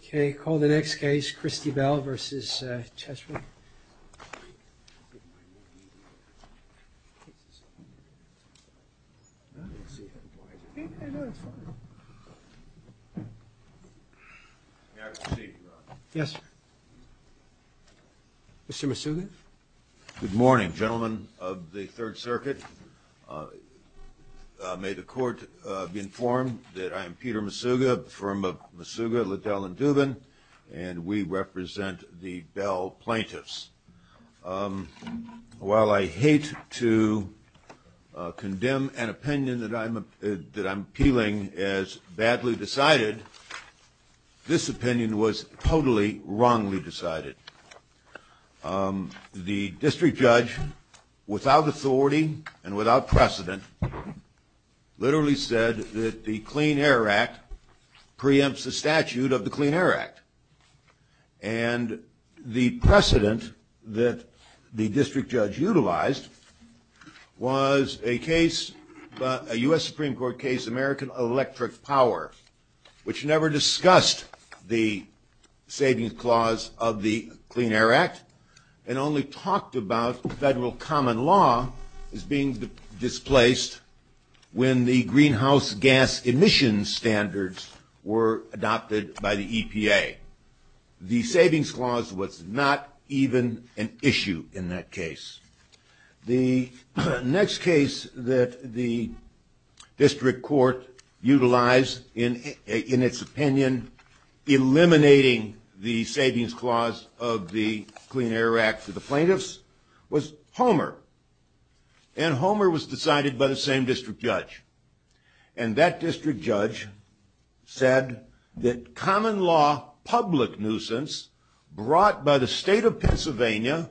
Okay, call the next case, Christie Bell Vs. Cheswick. May I proceed, Your Honor? Yes, sir. Mr. Misuga? Good morning, gentlemen of the Third Circuit. May the Court be informed that I am Peter Misuga from Misuga, Liddell, and Dubin, and we represent the Bell plaintiffs. While I hate to condemn an opinion that I'm appealing as badly decided, this opinion was totally wrongly decided. The district judge, without authority and without precedent, literally said that the Clean Air Act preempts the statute of the Clean Air Act. And the precedent that the district judge utilized was a case, a U.S. Supreme Court case, American Electric Power, which never discussed the savings clause of the Clean Air Act and only talked about federal common law as being displaced when the greenhouse gas emission standards were adopted by the EPA. The savings clause was not even an issue in that case. The next case that the district court utilized in its opinion, eliminating the savings clause of the Clean Air Act for the plaintiffs, was Homer. And Homer was decided by the same district judge. And that district judge said that common law public nuisance brought by the state of Pennsylvania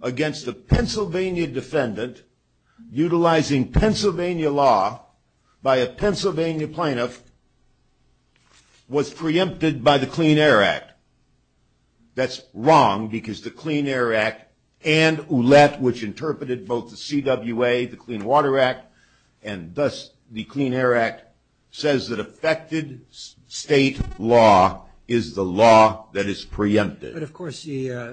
against a Pennsylvania defendant utilizing Pennsylvania law by a Pennsylvania plaintiff was preempted by the Clean Air Act. That's wrong because the Clean Air Act and OULET, which interpreted both the CWA, the Clean Water Act, and thus the Clean Air Act, says that affected state law is the law that is preempted. But of course, if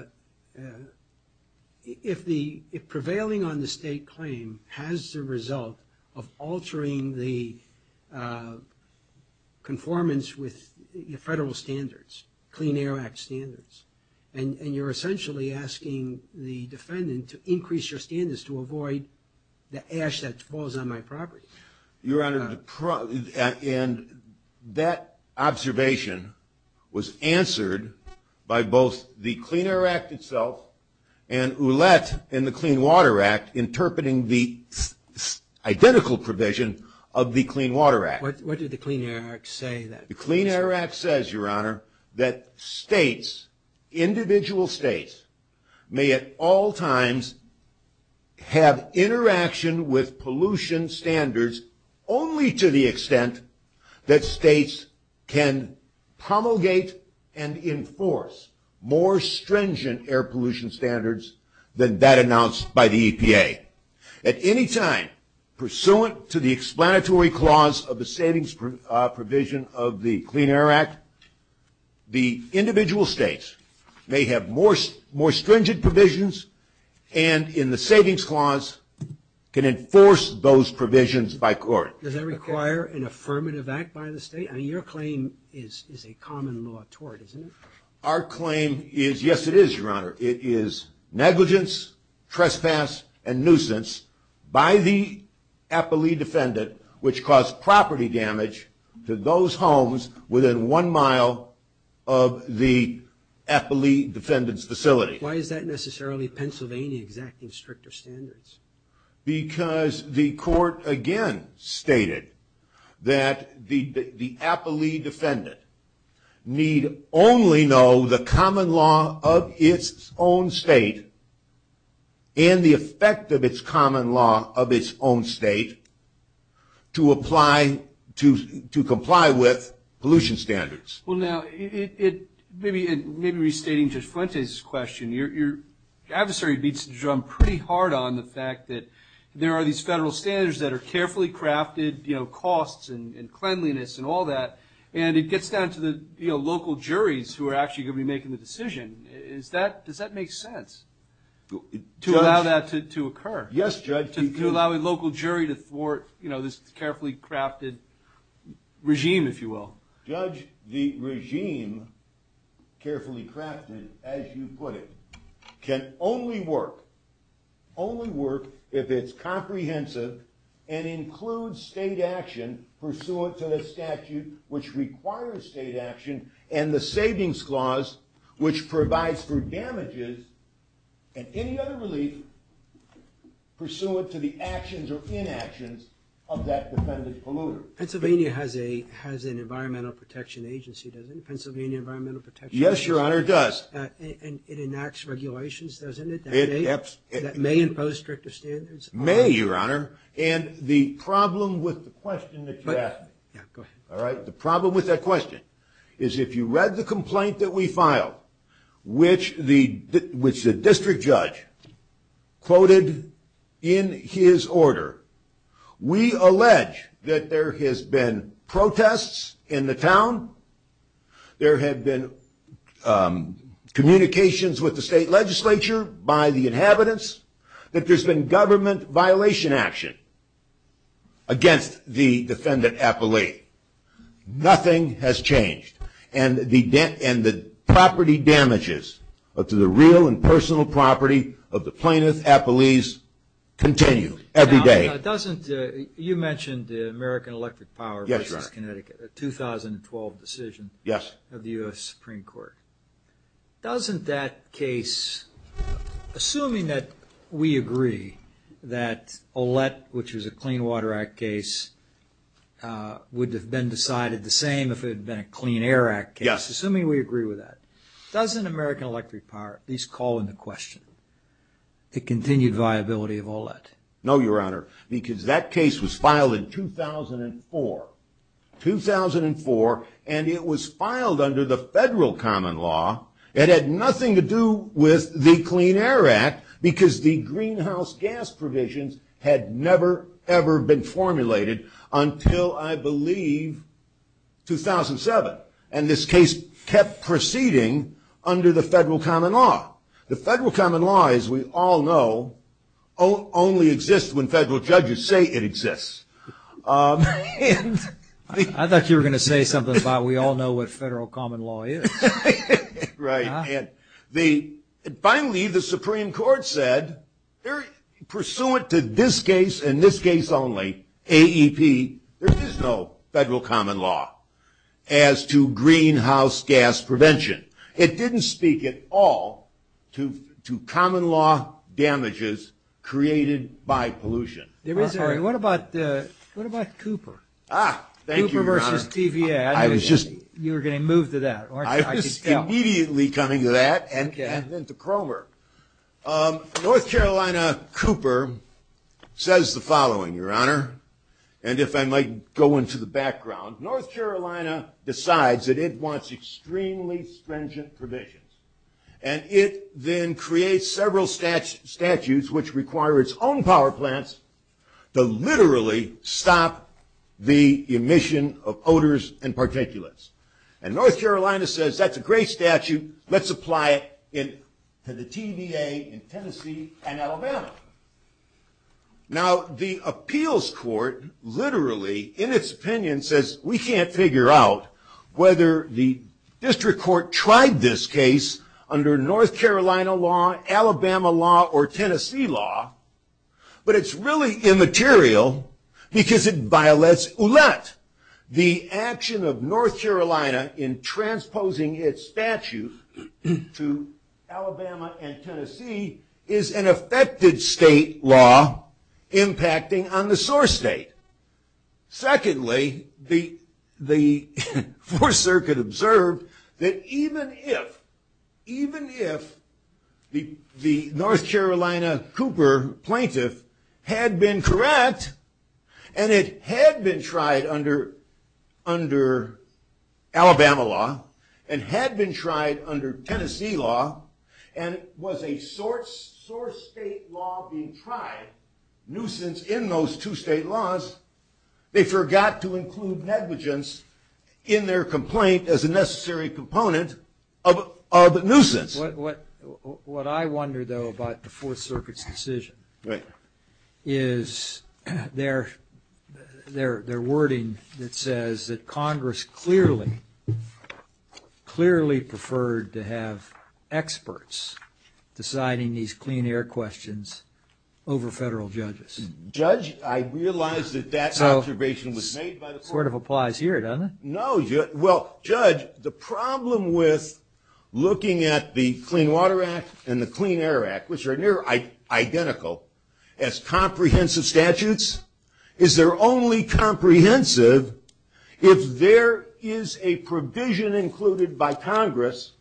prevailing on the state claim has the result of altering the conformance with federal standards, Clean Air Act standards, and you're essentially asking the defendant to increase your standards to avoid the ash that falls on my property. Your Honor, and that observation was answered by both the Clean Air Act itself and OULET and the Clean Water Act interpreting the identical provision of the Clean Water Act. What did the Clean Air Act say? The Clean Air Act says, Your Honor, that states, individual states, may at all times have interaction with pollution standards only to the extent that states can promulgate and enforce more stringent air pollution standards than that announced by the EPA. At any time, pursuant to the explanatory clause of the savings provision of the Clean Air Act, the individual states may have more stringent provisions and in the savings clause can enforce those provisions by court. Does that require an affirmative act by the state? I mean, your claim is a common law toward, isn't it? Our claim is, yes it is, Your Honor. It is negligence, trespass, and nuisance by the appellee defendant which caused property damage to those homes within one mile of the appellee defendant's facility. Why is that necessarily Pennsylvania exacting stricter standards? Because the court again stated that the appellee defendant need only know the common law of its own state and the effect of its common law of its own state to comply with pollution standards. Well, now, maybe restating Judge Fuentes' question, your adversary beats the drum pretty hard on the fact that there are these federal standards that are carefully crafted, costs and cleanliness and all that, and it gets down to the local juries who are actually going to be making the decision. Does that make sense to allow that to occur? Yes, Judge. To allow a local jury to thwart this carefully crafted regime, if you will. Judge, the regime, carefully crafted as you put it, can only work if it's comprehensive and includes state action pursuant to the statute which requires state action and the savings clause which provides for damages and any other relief pursuant to the actions or inactions of that defendant polluter. Pennsylvania has an environmental protection agency, doesn't it? Pennsylvania Environmental Protection Agency. Yes, your honor, it does. And it enacts regulations, doesn't it, that may impose stricter standards? May, your honor. And the problem with the question that you asked. Yeah, go ahead. We allege that there has been protests in the town, there have been communications with the state legislature by the inhabitants, that there's been government violation action against the defendant appellee. Nothing has changed. And the property damages to the real and personal property of the plaintiff appellees continue every day. Doesn't, you mentioned American Electric Power versus Connecticut, a 2012 decision of the U.S. Supreme Court. Doesn't that case, assuming that we agree that Ouellette, which was a Clean Water Act case, would have been decided the same if it had been a Clean Air Act case, assuming we agree with that, doesn't American Electric Power at least call into question the continued viability of Ouellette? No, your honor, because that case was filed in 2004. 2004, and it was filed under the federal common law. It had nothing to do with the Clean Air Act, because the greenhouse gas provisions had never, ever been formulated until, I believe, 2007. And this case kept proceeding under the federal common law. The federal common law, as we all know, only exists when federal judges say it exists. I thought you were going to say something about we all know what federal common law is. Right. And finally, the Supreme Court said, pursuant to this case and this case only, AEP, there is no federal common law as to greenhouse gas prevention. It didn't speak at all to common law damages created by pollution. What about Cooper? Thank you, your honor. Cooper versus TVA. You were going to move to that, weren't you? I was immediately coming to that and then to Cromer. North Carolina Cooper says the following, your honor. And if I might go into the background, North Carolina decides that it wants extremely stringent provisions. And it then creates several statutes which require its own power plants to literally stop the emission of odors and particulates. And North Carolina says that's a great statute. Let's apply it to the TVA in Tennessee and Alabama. Now, the appeals court literally, in its opinion, says we can't figure out whether the district court tried this case under North Carolina law, Alabama law, or Tennessee law. But it's really immaterial because it violates OOLET. The action of North Carolina in transposing its statute to Alabama and Tennessee is an affected state law impacting on the source state. Secondly, the Fourth Circuit observed that even if the North Carolina Cooper plaintiff had been correct and it had been tried under Alabama law, and had been tried under Tennessee law, and was a source state law being tried, nuisance in those two state laws, they forgot to include negligence in their complaint as a necessary component of nuisance. What I wonder, though, about the Fourth Circuit's decision is their wording that says that Congress clearly, clearly preferred to have experts deciding these clean air questions over federal judges. Judge, I realize that that observation was made by the court. It sort of applies here, doesn't it? No. Well, Judge, the problem with looking at the Clean Water Act and the Clean Air Act, which are near identical as comprehensive statutes, is they're only comprehensive if there is a provision included by Congress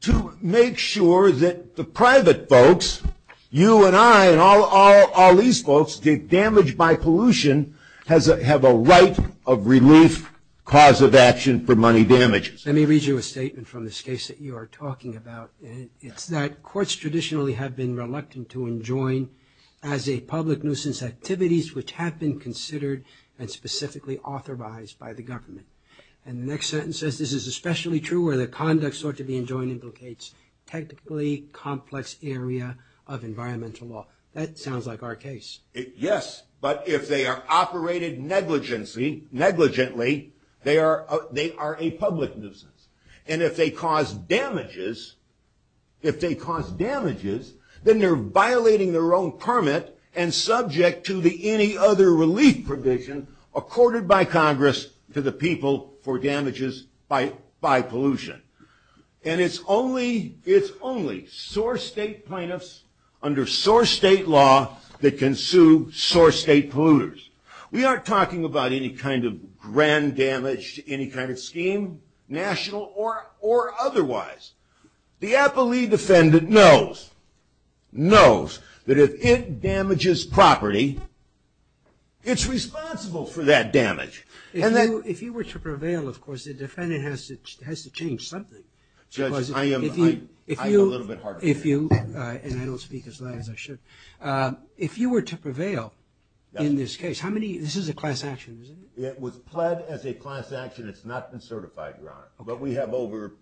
to make sure that the private folks, you and I and all these folks, take damage by pollution, have a right of relief, cause of action for money damages. Let me read you a statement from this case that you are talking about. It's that courts traditionally have been reluctant to enjoin as a public nuisance activities which have been considered and specifically authorized by the government. And the next sentence says, this is especially true where the conduct sought to be enjoined implicates technically complex area of environmental law. That sounds like our case. Yes, but if they are operated negligently, they are a public nuisance. And if they cause damages, then they're violating their own permit and subject to the any other relief provision accorded by Congress to the people for damages by pollution. And it's only source state plaintiffs under source state law that can sue source state polluters. We aren't talking about any kind of grand damage to any kind of scheme, national or otherwise. The appellee defendant knows that if it damages property, it's responsible for that damage. If you were to prevail, of course, the defendant has to change something. Judge, I am a little bit hard on you. And I don't speak as loud as I should. If you were to prevail in this case, how many, this is a class action, isn't it? It was pled as a class action. It's not been certified, Your Honor. But we have over...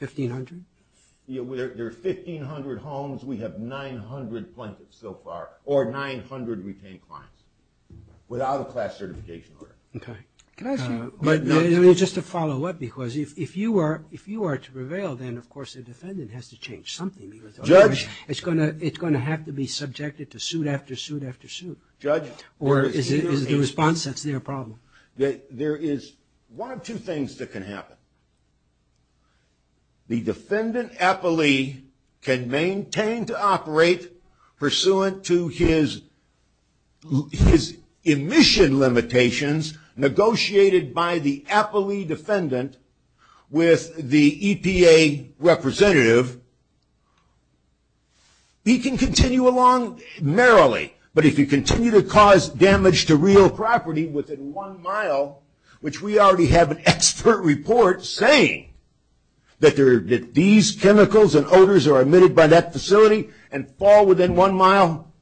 1,500? There are 1,500 homes. We have 900 plaintiffs so far or 900 retained clients without a class certification order. Okay. Can I ask you just a follow-up? Because if you are to prevail, then, of course, the defendant has to change something. Judge... It's going to have to be subjected to suit after suit after suit. Judge... Or is the response that's their problem? There is one of two things that can happen. The defendant appellee can maintain to operate pursuant to his emission limitations negotiated by the appellee defendant with the EPA representative. He can continue along merrily. But if you continue to cause damage to real property within one mile, which we already have an expert report saying that these chemicals and odors are emitted by that facility and fall within one mile,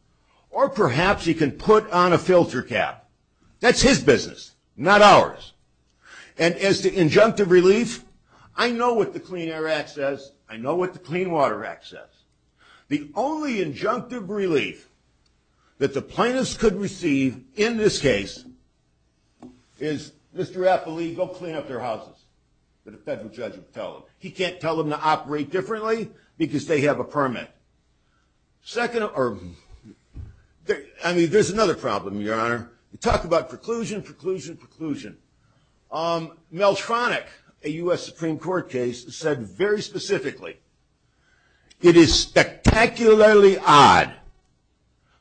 or perhaps he can put on a filter cap. That's his business, not ours. And as to injunctive relief, I know what the Clean Air Act says. I know what the Clean Water Act says. The only injunctive relief that the plaintiffs could receive in this case is, Mr. Appellee, go clean up their houses, that a federal judge would tell them. He can't tell them to operate differently because they have a permit. Second, or... I mean, there's another problem, Your Honor. You talk about preclusion, preclusion, preclusion. Mel Tronick, a U.S. Supreme Court case, said very specifically, it is spectacularly odd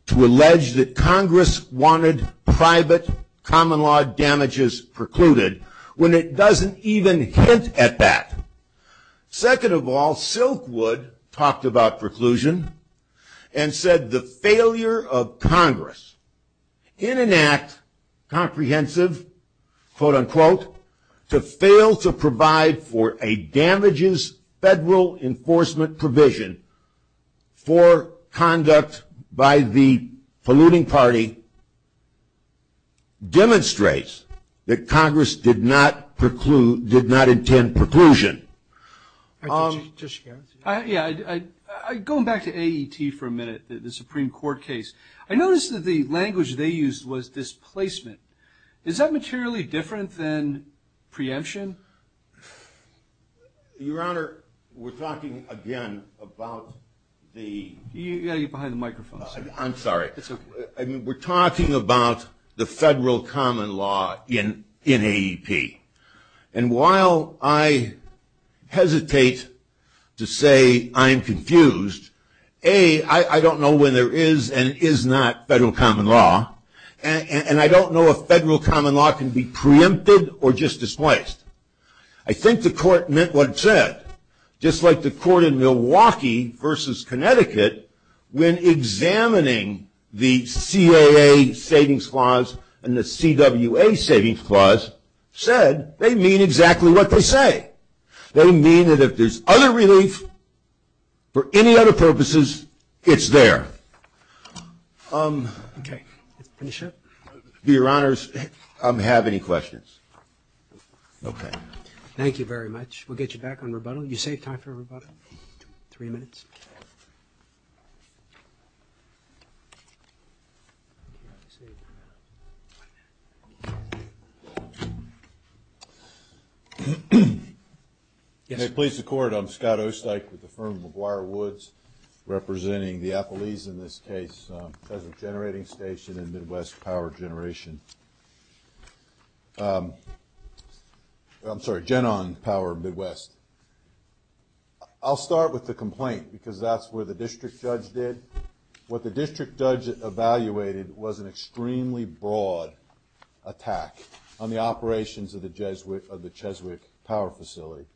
to allege that Congress wanted private common law damages precluded when it doesn't even hint at that. Second of all, Silkwood talked about preclusion and said the failure of Congress in an act, comprehensive, quote, unquote, to fail to provide for a damages federal enforcement provision for conduct by the polluting party, demonstrates that Congress did not preclude, did not intend preclusion. Yeah, going back to AET for a minute, the Supreme Court case, I noticed that the language they used was displacement. Is that materially different than preemption? Your Honor, we're talking again about the... You've got to get behind the microphone. I'm sorry. It's okay. We're talking about the federal common law in AEP. And while I hesitate to say I'm confused, A, I don't know when there is and is not federal common law, and I don't know if federal common law can be preempted or just displaced. I think the court meant what it said. Just like the court in Milwaukee versus Connecticut, when examining the CAA savings clause and the CWA savings clause, said, they mean exactly what they say. They mean that if there's other relief for any other purposes, it's there. Okay. Let's finish up. Your Honors, I don't have any questions. Okay. Thank you very much. We'll get you back on rebuttal. You save time for rebuttal? Three minutes. May it please the Court. I'm Scott Osteich with the firm McGuire Woods, representing the affilies in this case, Cheswick Generating Station and Midwest Power Generation. I'm sorry, Genon Power Midwest. I'll start with the complaint because that's where the district judge did. What the district judge evaluated was an extremely broad attack on the operations of the Cheswick Power Facility.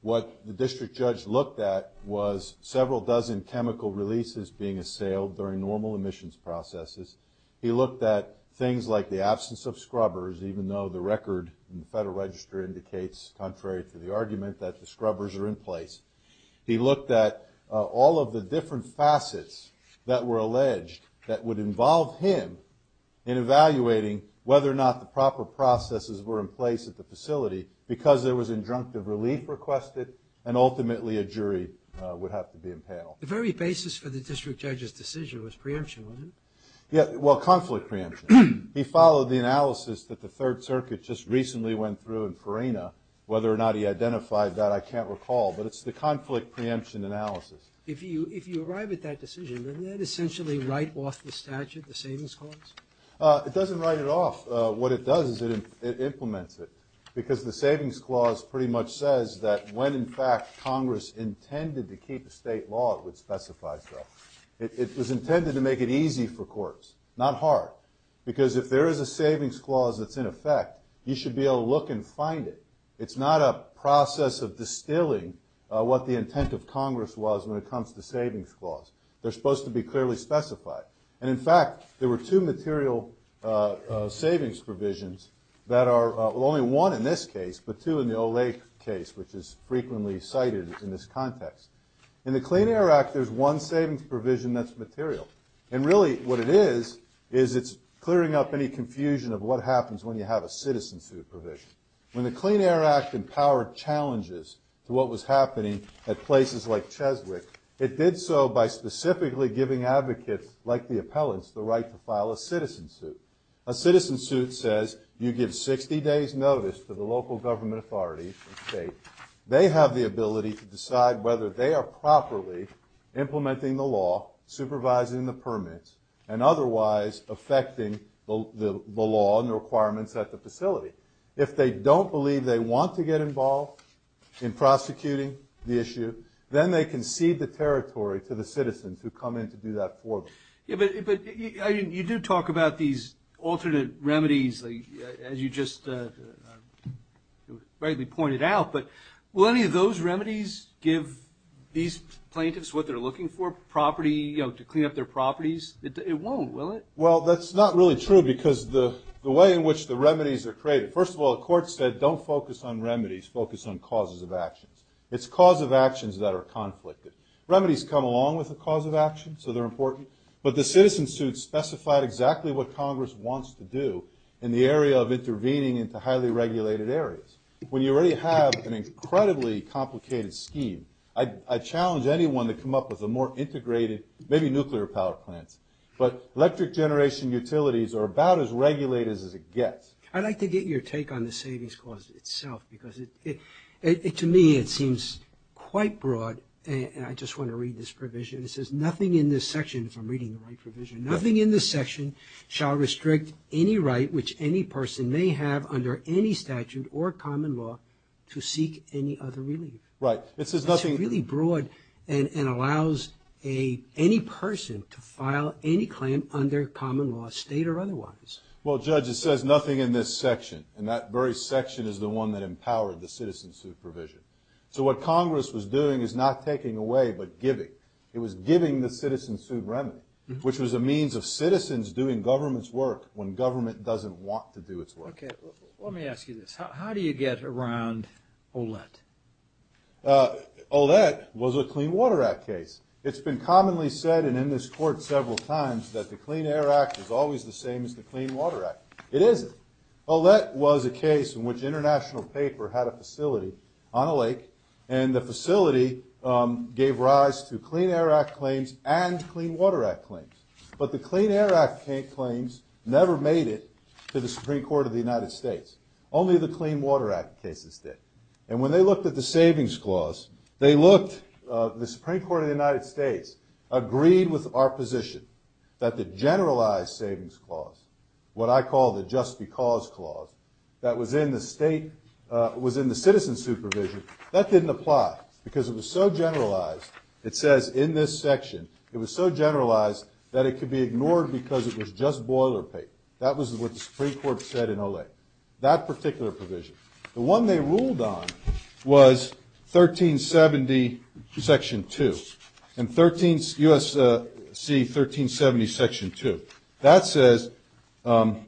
What the district judge looked at was several dozen chemical releases being assailed during normal emissions processes. He looked at things like the absence of scrubbers, even though the record in the Federal Register indicates, contrary to the argument, that the scrubbers are in place. He looked at all of the different facets that were alleged that would involve him in evaluating whether or not the proper processes were in place at the facility because there was injunctive relief requested and ultimately a jury would have to be impaled. The very basis for the district judge's decision was preemption, wasn't it? Yeah. Well, conflict preemption. He followed the analysis that the Third Circuit just recently went through in Ferena. Whether or not he identified that, I can't recall, but it's the conflict preemption analysis. If you arrive at that decision, doesn't that essentially write off the statute, the Savings Clause? It doesn't write it off. What it does is it implements it because the Savings Clause pretty much says that when, in fact, Congress intended to keep a state law, it would specify so. It was intended to make it easy for courts, not hard, because if there is a Savings Clause that's in effect, you should be able to look and find it. It's not a process of distilling what the intent of Congress was when it comes to Savings Clause. They're supposed to be clearly specified. And, in fact, there were two material savings provisions that are only one in this case, but two in the Olay case, which is frequently cited in this context. In the Clean Air Act, there's one savings provision that's material, and really what it is is it's clearing up any confusion of what happens when you have a citizen's food provision. When the Clean Air Act empowered challenges to what was happening at places like Cheswick, it did so by specifically giving advocates, like the appellants, the right to file a citizen suit. A citizen suit says you give 60 days' notice to the local government authorities and states. They have the ability to decide whether they are properly implementing the law, supervising the permits, and otherwise affecting the law and the requirements at the facility. If they don't believe they want to get involved in prosecuting the issue, then they concede the territory to the citizens who come in to do that for them. Yeah, but you do talk about these alternate remedies, as you just rightly pointed out, but will any of those remedies give these plaintiffs what they're looking for, property, you know, to clean up their properties? It won't, will it? Well, that's not really true because the way in which the remedies are created, first of all, the court said don't focus on remedies, focus on causes of actions. It's cause of actions that are conflicted. Remedies come along with a cause of action, so they're important, but the citizen suit specified exactly what Congress wants to do in the area of intervening into highly regulated areas. When you already have an incredibly complicated scheme, I challenge anyone to come up with a more integrated, maybe nuclear power plant, but electric generation utilities are about as regulated as it gets. I'd like to get your take on the savings clause itself because to me it seems quite broad, and I just want to read this provision. It says, nothing in this section, if I'm reading the right provision, nothing in this section shall restrict any right which any person may have under any statute or common law to seek any other relief. Right. It says nothing... It's really broad and allows any person to file any claim under common law, state or otherwise. Well, Judge, it says nothing in this section, and that very section is the one that empowered the citizen suit provision. So what Congress was doing is not taking away but giving. It was giving the citizen suit remedy, which was a means of citizens doing government's work when government doesn't want to do its work. Okay. Well, let me ask you this. How do you get around OLET? OLET was a Clean Water Act case. It's been commonly said, and in this court several times, that the Clean Air Act is always the same as the Clean Water Act. It isn't. OLET was a case in which an international paper had a facility on a lake, and the facility gave rise to Clean Air Act claims and Clean Water Act claims. But the Clean Air Act claims never made it to the Supreme Court of the United States. Only the Clean Water Act cases did. And when they looked at the Savings Clause, the Supreme Court of the United States agreed with our position that the generalized Savings Clause, what I call the Just Because Clause, that was in the citizen suit provision, that didn't apply because it was so generalized, it says in this section, it was so generalized that it could be ignored because it was just boilerplate. That was what the Supreme Court said in OLET, that particular provision. The one they ruled on was 1370, Section 2, and USC 1370, Section 2. That says, and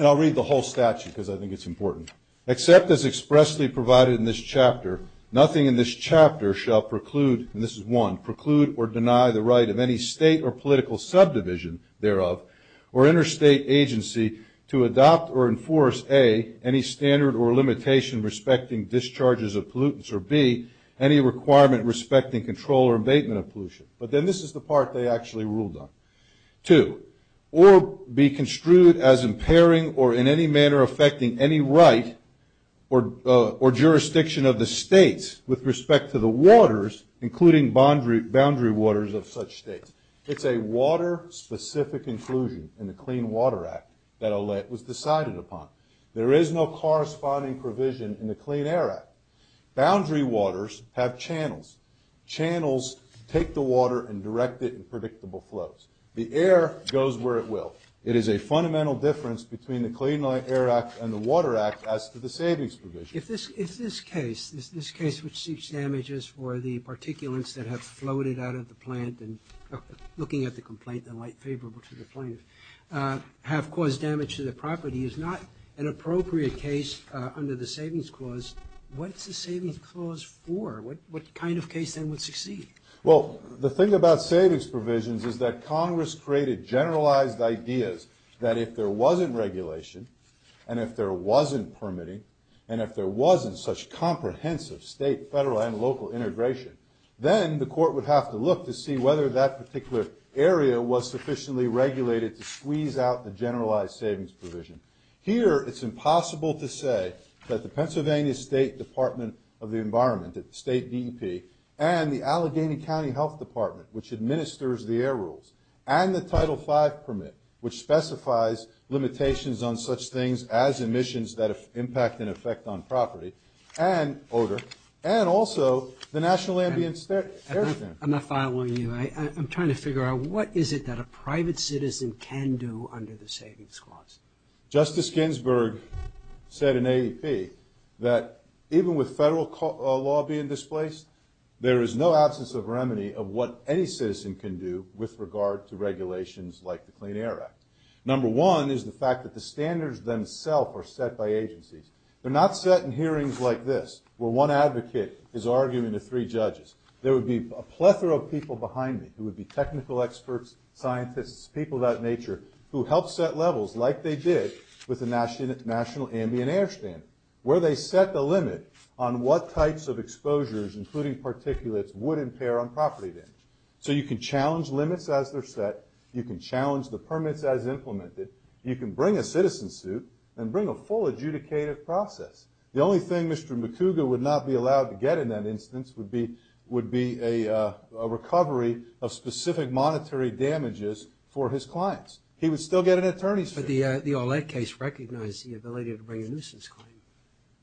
I'll read the whole statute because I think it's important. Except as expressly provided in this chapter, nothing in this chapter shall preclude, and this is one, preclude or deny the right of any state or political subdivision thereof or interstate agency to adopt or enforce, A, any standard or limitation respecting discharges of pollutants, or B, any requirement respecting control or abatement of pollution. But then this is the part they actually ruled on. Two, or be construed as impairing or in any manner affecting any right or jurisdiction of the states with respect to the waters, including boundary waters of such states. It's a water-specific inclusion in the Clean Water Act that OLET was decided upon. There is no corresponding provision in the Clean Air Act. Boundary waters have channels. Channels take the water and direct it in predictable flows. The air goes where it will. It is a fundamental difference between the Clean Air Act and the Water Act as to the savings provision. If this case, this case which seeks damages for the particulates that have floated out of the plant and looking at the complaint, the light favorable to the plaintiff, have caused damage to the property, is not an appropriate case under the savings clause, what's the savings clause for? What kind of case then would succeed? Well, the thing about savings provisions is that Congress created generalized ideas that if there wasn't regulation, and if there wasn't permitting, and if there wasn't such comprehensive state, federal, and local integration, then the court would have to look to see whether that particular area was sufficiently regulated to squeeze out the generalized savings provision. Here, it's impossible to say that the Pennsylvania State Department of the Environment, the State DEP, and the Allegheny County Health Department, which administers the air rules, and the Title V permit, which specifies limitations on such things as emissions that impact and affect on property, and odor, and also the National Ambient Air Center. I'm not following you. I'm trying to figure out what is it that a private citizen can do under the savings clause. Justice Ginsburg said in AEP that even with federal law being displaced, there is no absence of remedy of what any citizen can do with regard to regulations like the Clean Air Act. Number one is the fact that the standards themselves are set by agencies. They're not set in hearings like this, where one advocate is arguing to three judges. There would be a plethora of people behind me who would be technical experts, scientists, people of that nature, who help set levels like they did with the National Ambient Air Standard, where they set the limit on what types of exposures, including particulates, would impair on property damage. So you can challenge limits as they're set. You can challenge the permits as implemented. You can bring a citizen suit and bring a full adjudicated process. The only thing Mr. McCougar would not be allowed to get in that instance would be a recovery of specific monetary damages for his clients. He would still get an attorney's suit. But the OLEC case recognized the ability to bring a nuisance claim.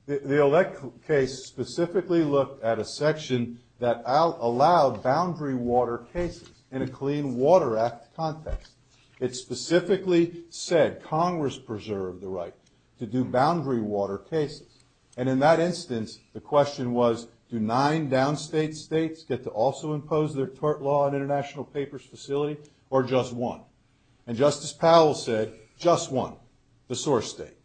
The OLEC case specifically looked at a section that allowed boundary water cases in a Clean Water Act context. It specifically said Congress preserved the right to do boundary water cases. And in that instance, the question was, do nine downstate states get to also impose their tort law on an international papers facility, or just one? And Justice Powell said, just one, the source state.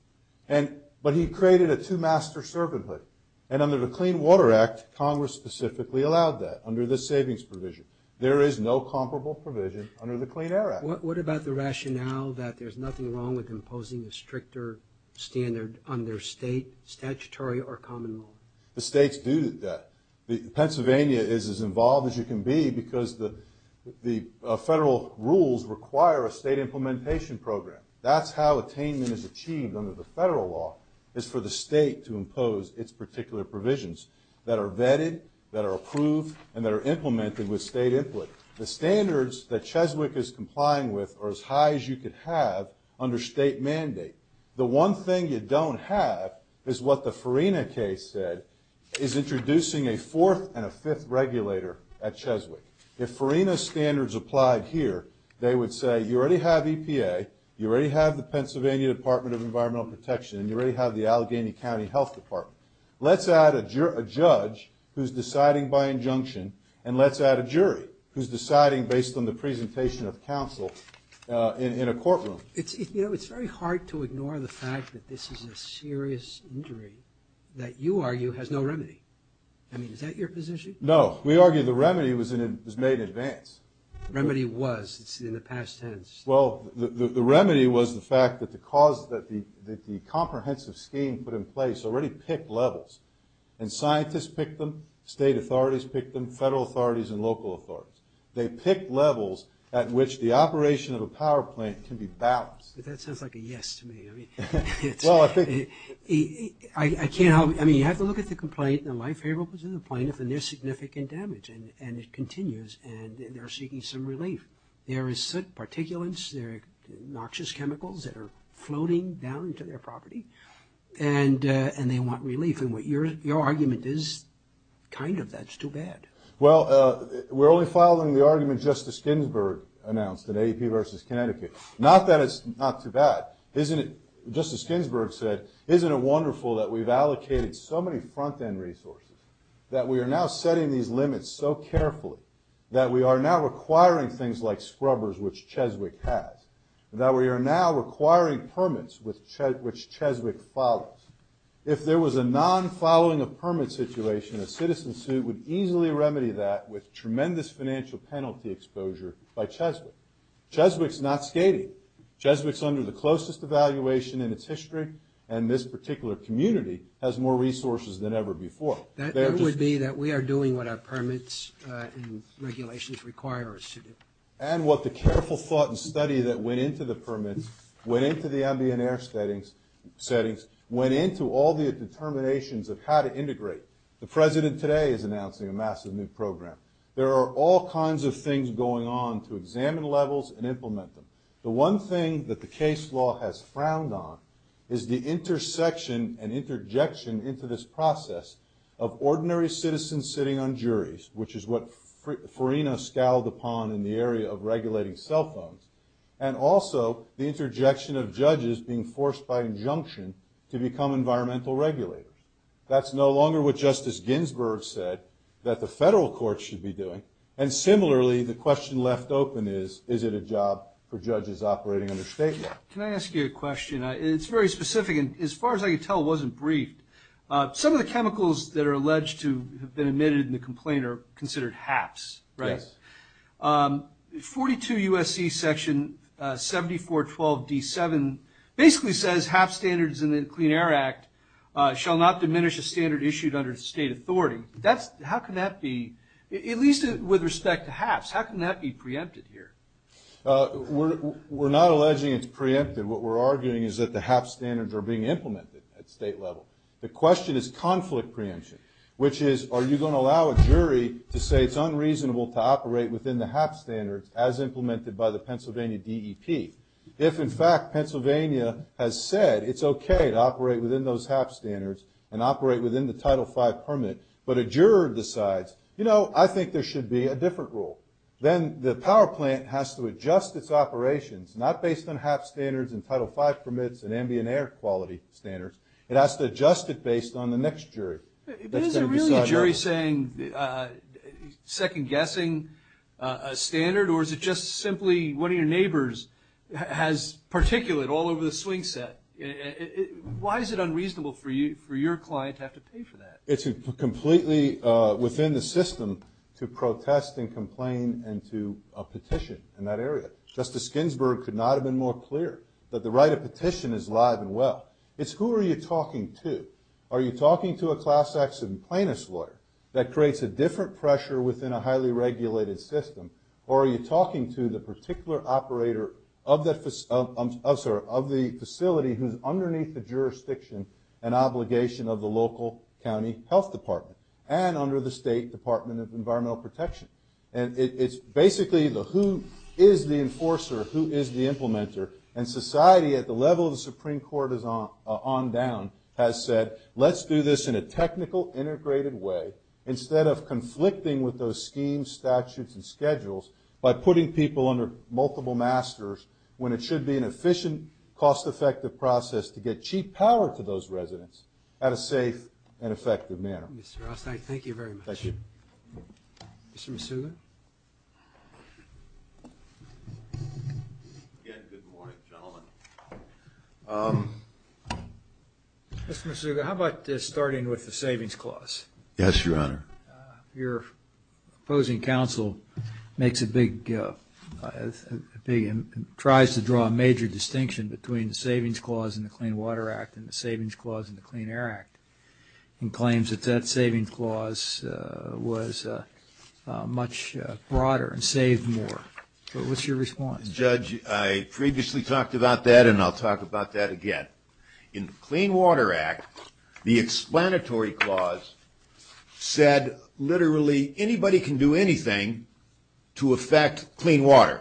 But he created a two-master servanthood. And under the Clean Water Act, Congress specifically allowed that, under the savings provision. There is no comparable provision under the Clean Air Act. What about the rationale that there's nothing wrong with imposing a stricter standard under state statutory or common law? The states do that. Pennsylvania is as involved as you can be because the federal rules require a state implementation program. That's how attainment is achieved under the federal law, is for the state to impose its particular provisions that are vetted, that are approved, and that are implemented with state input. The standards that Cheswick is complying with are as high as you could have under state mandate. The one thing you don't have is what the Farina case said, is introducing a fourth and a fifth regulator at Cheswick. If Farina's standards applied here, they would say, you already have EPA, you already have the Pennsylvania Department of Environmental Protection, and you already have the Allegheny County Health Department. Let's add a judge who's deciding by injunction, and let's add a jury who's deciding based on the presentation of counsel in a courtroom. You know, it's very hard to ignore the fact that this is a serious injury that you argue has no remedy. I mean, is that your position? No. We argue the remedy was made in advance. The remedy was in the past tense. Well, the remedy was the fact that the cause that the comprehensive scheme put in place already picked levels, and scientists picked them, state authorities picked them, federal authorities, and local authorities. They picked levels at which the operation of a power plant can be balanced. But that sounds like a yes to me. I mean, it's – Well, I think – I can't help – I mean, you have to look at the complaint, and my favorite was in the plaintiff, and there's significant damage, and it continues, and they're seeking some relief. There is particulates. There are noxious chemicals that are floating down to their property, and they want relief. And what your argument is, kind of, that's too bad. Well, we're only following the argument Justice Ginsburg announced in AAP versus Connecticut. Not that it's not too bad. Isn't it – Justice Ginsburg said, isn't it wonderful that we've allocated so many front-end resources, that we are now setting these limits so carefully, that we are now requiring things like scrubbers, which Cheswick has, that we are now requiring permits, which Cheswick follows. If there was a non-following-of-permits situation, a citizen suit would easily remedy that with tremendous financial penalty exposure by Cheswick. Cheswick's not skating. Cheswick's under the closest evaluation in its history, and this particular community has more resources than ever before. That would be that we are doing what our permits and regulations require us to do. And what the careful thought and study that went into the permits, went into the ambient air settings, went into all the determinations of how to integrate. The President today is announcing a massive new program. There are all kinds of things going on to examine levels and implement them. The one thing that the case law has frowned on is the intersection and interjection into this process of ordinary citizens sitting on juries, which is what Farina scowled upon in the area of regulating cell phones, and also the interjection of judges being forced by injunction to become environmental regulators. That's no longer what Justice Ginsburg said that the federal courts should be doing, and similarly, the question left open is, is it a job for judges operating under state law? Can I ask you a question? It's very specific, and as far as I can tell, it wasn't briefed. Some of the chemicals that are alleged to have been admitted in the complaint are considered HAPs, right? Yes. 42 U.S.C. section 7412 D7 basically says HAP standards in the Clean Air Act shall not diminish a standard issued under state authority. How can that be, at least with respect to HAPs, how can that be preempted here? We're not alleging it's preempted. What we're arguing is that the HAP standards are being implemented at state level. The question is conflict preemption, which is, are you going to allow a jury to say it's unreasonable to operate within the HAP standards as implemented by the Pennsylvania DEP? If, in fact, Pennsylvania has said it's okay to operate within those HAP standards and operate within the Title V permit, but a juror decides, you know, I think there should be a different rule, then the power plant has to adjust its operations, not based on HAP standards and Title V permits and ambient air quality standards. It has to adjust it based on the next jury. Is it really a jury saying second-guessing a standard, or is it just simply one of your neighbors has particulate all over the swing set? Why is it unreasonable for your client to have to pay for that? It's completely within the system to protest and complain and to petition in that area. Justice Ginsburg could not have been more clear that the right of petition is alive and well. It's who are you talking to. Are you talking to a class-action plaintiff's lawyer that creates a different pressure within a highly regulated system, or are you talking to the particular operator of the facility who's underneath the jurisdiction and obligation of the local county health department and under the State Department of Environmental Protection? And it's basically the who is the enforcer, who is the implementer, and society at the level of the Supreme Court on down has said, let's do this in a technical, integrated way. Instead of conflicting with those schemes, statutes, and schedules, by putting people under multiple masters when it should be an efficient, cost-effective process to get cheap power to those residents at a safe and effective manner. Mr. Ross, I thank you very much. Thank you. Mr. Misuga? Again, good morning, gentlemen. Mr. Misuga, how about starting with the savings clause? Yes, Your Honor. Your opposing counsel makes a big, tries to draw a major distinction between the savings clause in the Clean Water Act and the savings clause in the Clean Air Act and claims that that savings clause was much broader and saved more. What's your response? Judge, I previously talked about that, and I'll talk about that again. In the Clean Water Act, the explanatory clause said, literally, anybody can do anything to affect clean water.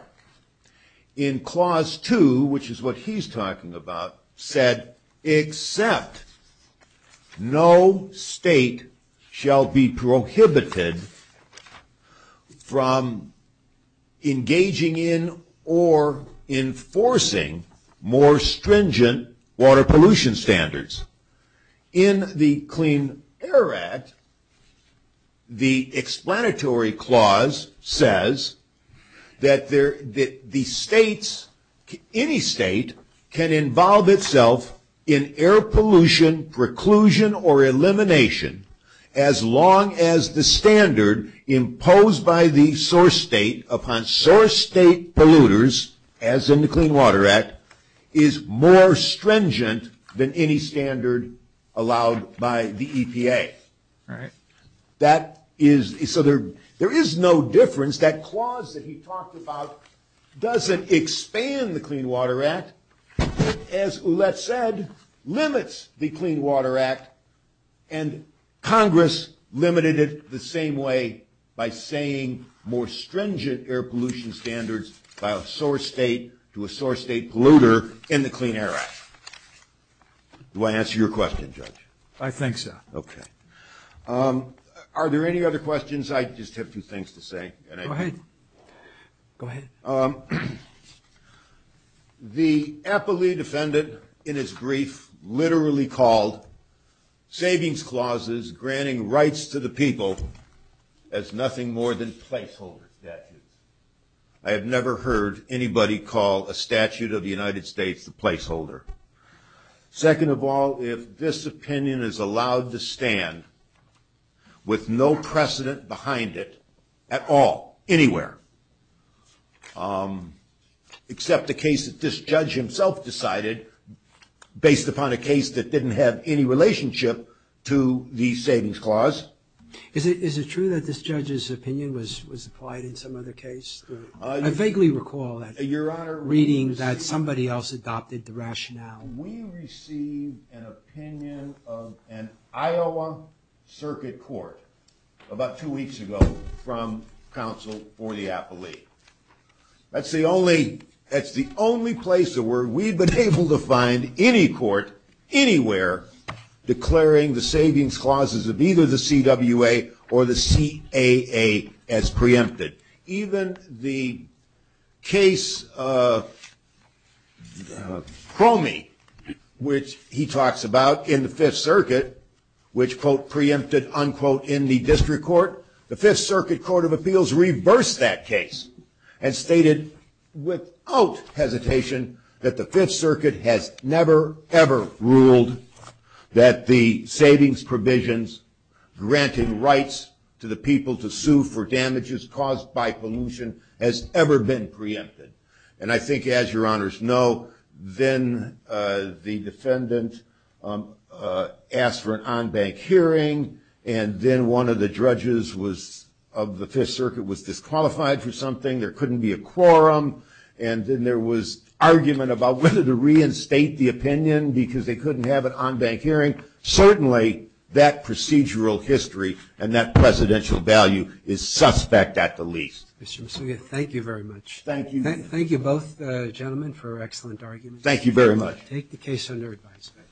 In Clause 2, which is what he's talking about, said, except no state shall be prohibited from engaging in or enforcing more stringent water pollution standards. In the Clean Air Act, the explanatory clause says that the states, any state can involve itself in air pollution, preclusion, or elimination as long as the standard imposed by the source state upon source state polluters, as in the Clean Water Act, is more stringent than any standard allowed by the EPA. Right. That is, so there is no difference. That clause that he talked about doesn't expand the Clean Water Act. As Ouellette said, limits the Clean Water Act, and Congress limited it the same way by saying more stringent air pollution standards by a source state to a source state polluter in the Clean Air Act. Do I answer your question, Judge? I think so. Okay. Are there any other questions? I just have two things to say. Go ahead. Go ahead. The Eppley defendant, in his brief, literally called savings clauses granting rights to the people as nothing more than placeholder statutes. I have never heard anybody call a statute of the United States a placeholder. Second of all, if this opinion is allowed to stand with no precedent behind it at all, anywhere, except the case that this judge himself decided, based upon a case that didn't have any relationship to the savings clause. Is it true that this judge's opinion was applied in some other case? I vaguely recall reading that somebody else adopted the rationale. We received an opinion of an Iowa circuit court about two weeks ago from counsel for the Eppley. That's the only place where we've been able to find any court anywhere declaring the savings clauses of either the CWA or the CAA as preempted. Even the case Cromie, which he talks about in the Fifth Circuit, which, quote, preempted, unquote, in the district court, the Fifth Circuit Court of Appeals reversed that case and stated without hesitation that the Fifth Circuit has never, ever ruled that the savings provisions granting rights to the people to sue for damages caused by pollution has ever been preempted. And I think, as your honors know, then the defendant asked for an on-bank hearing and then one of the judges of the Fifth Circuit was disqualified for something, there couldn't be a quorum, and then there was argument about whether to reinstate the opinion because they couldn't have an on-bank hearing. Certainly, that procedural history and that presidential value is suspect at the least. Mr. Mussovia, thank you very much. Thank you. Thank you both gentlemen for excellent arguments. Thank you very much. Take the case under advisement.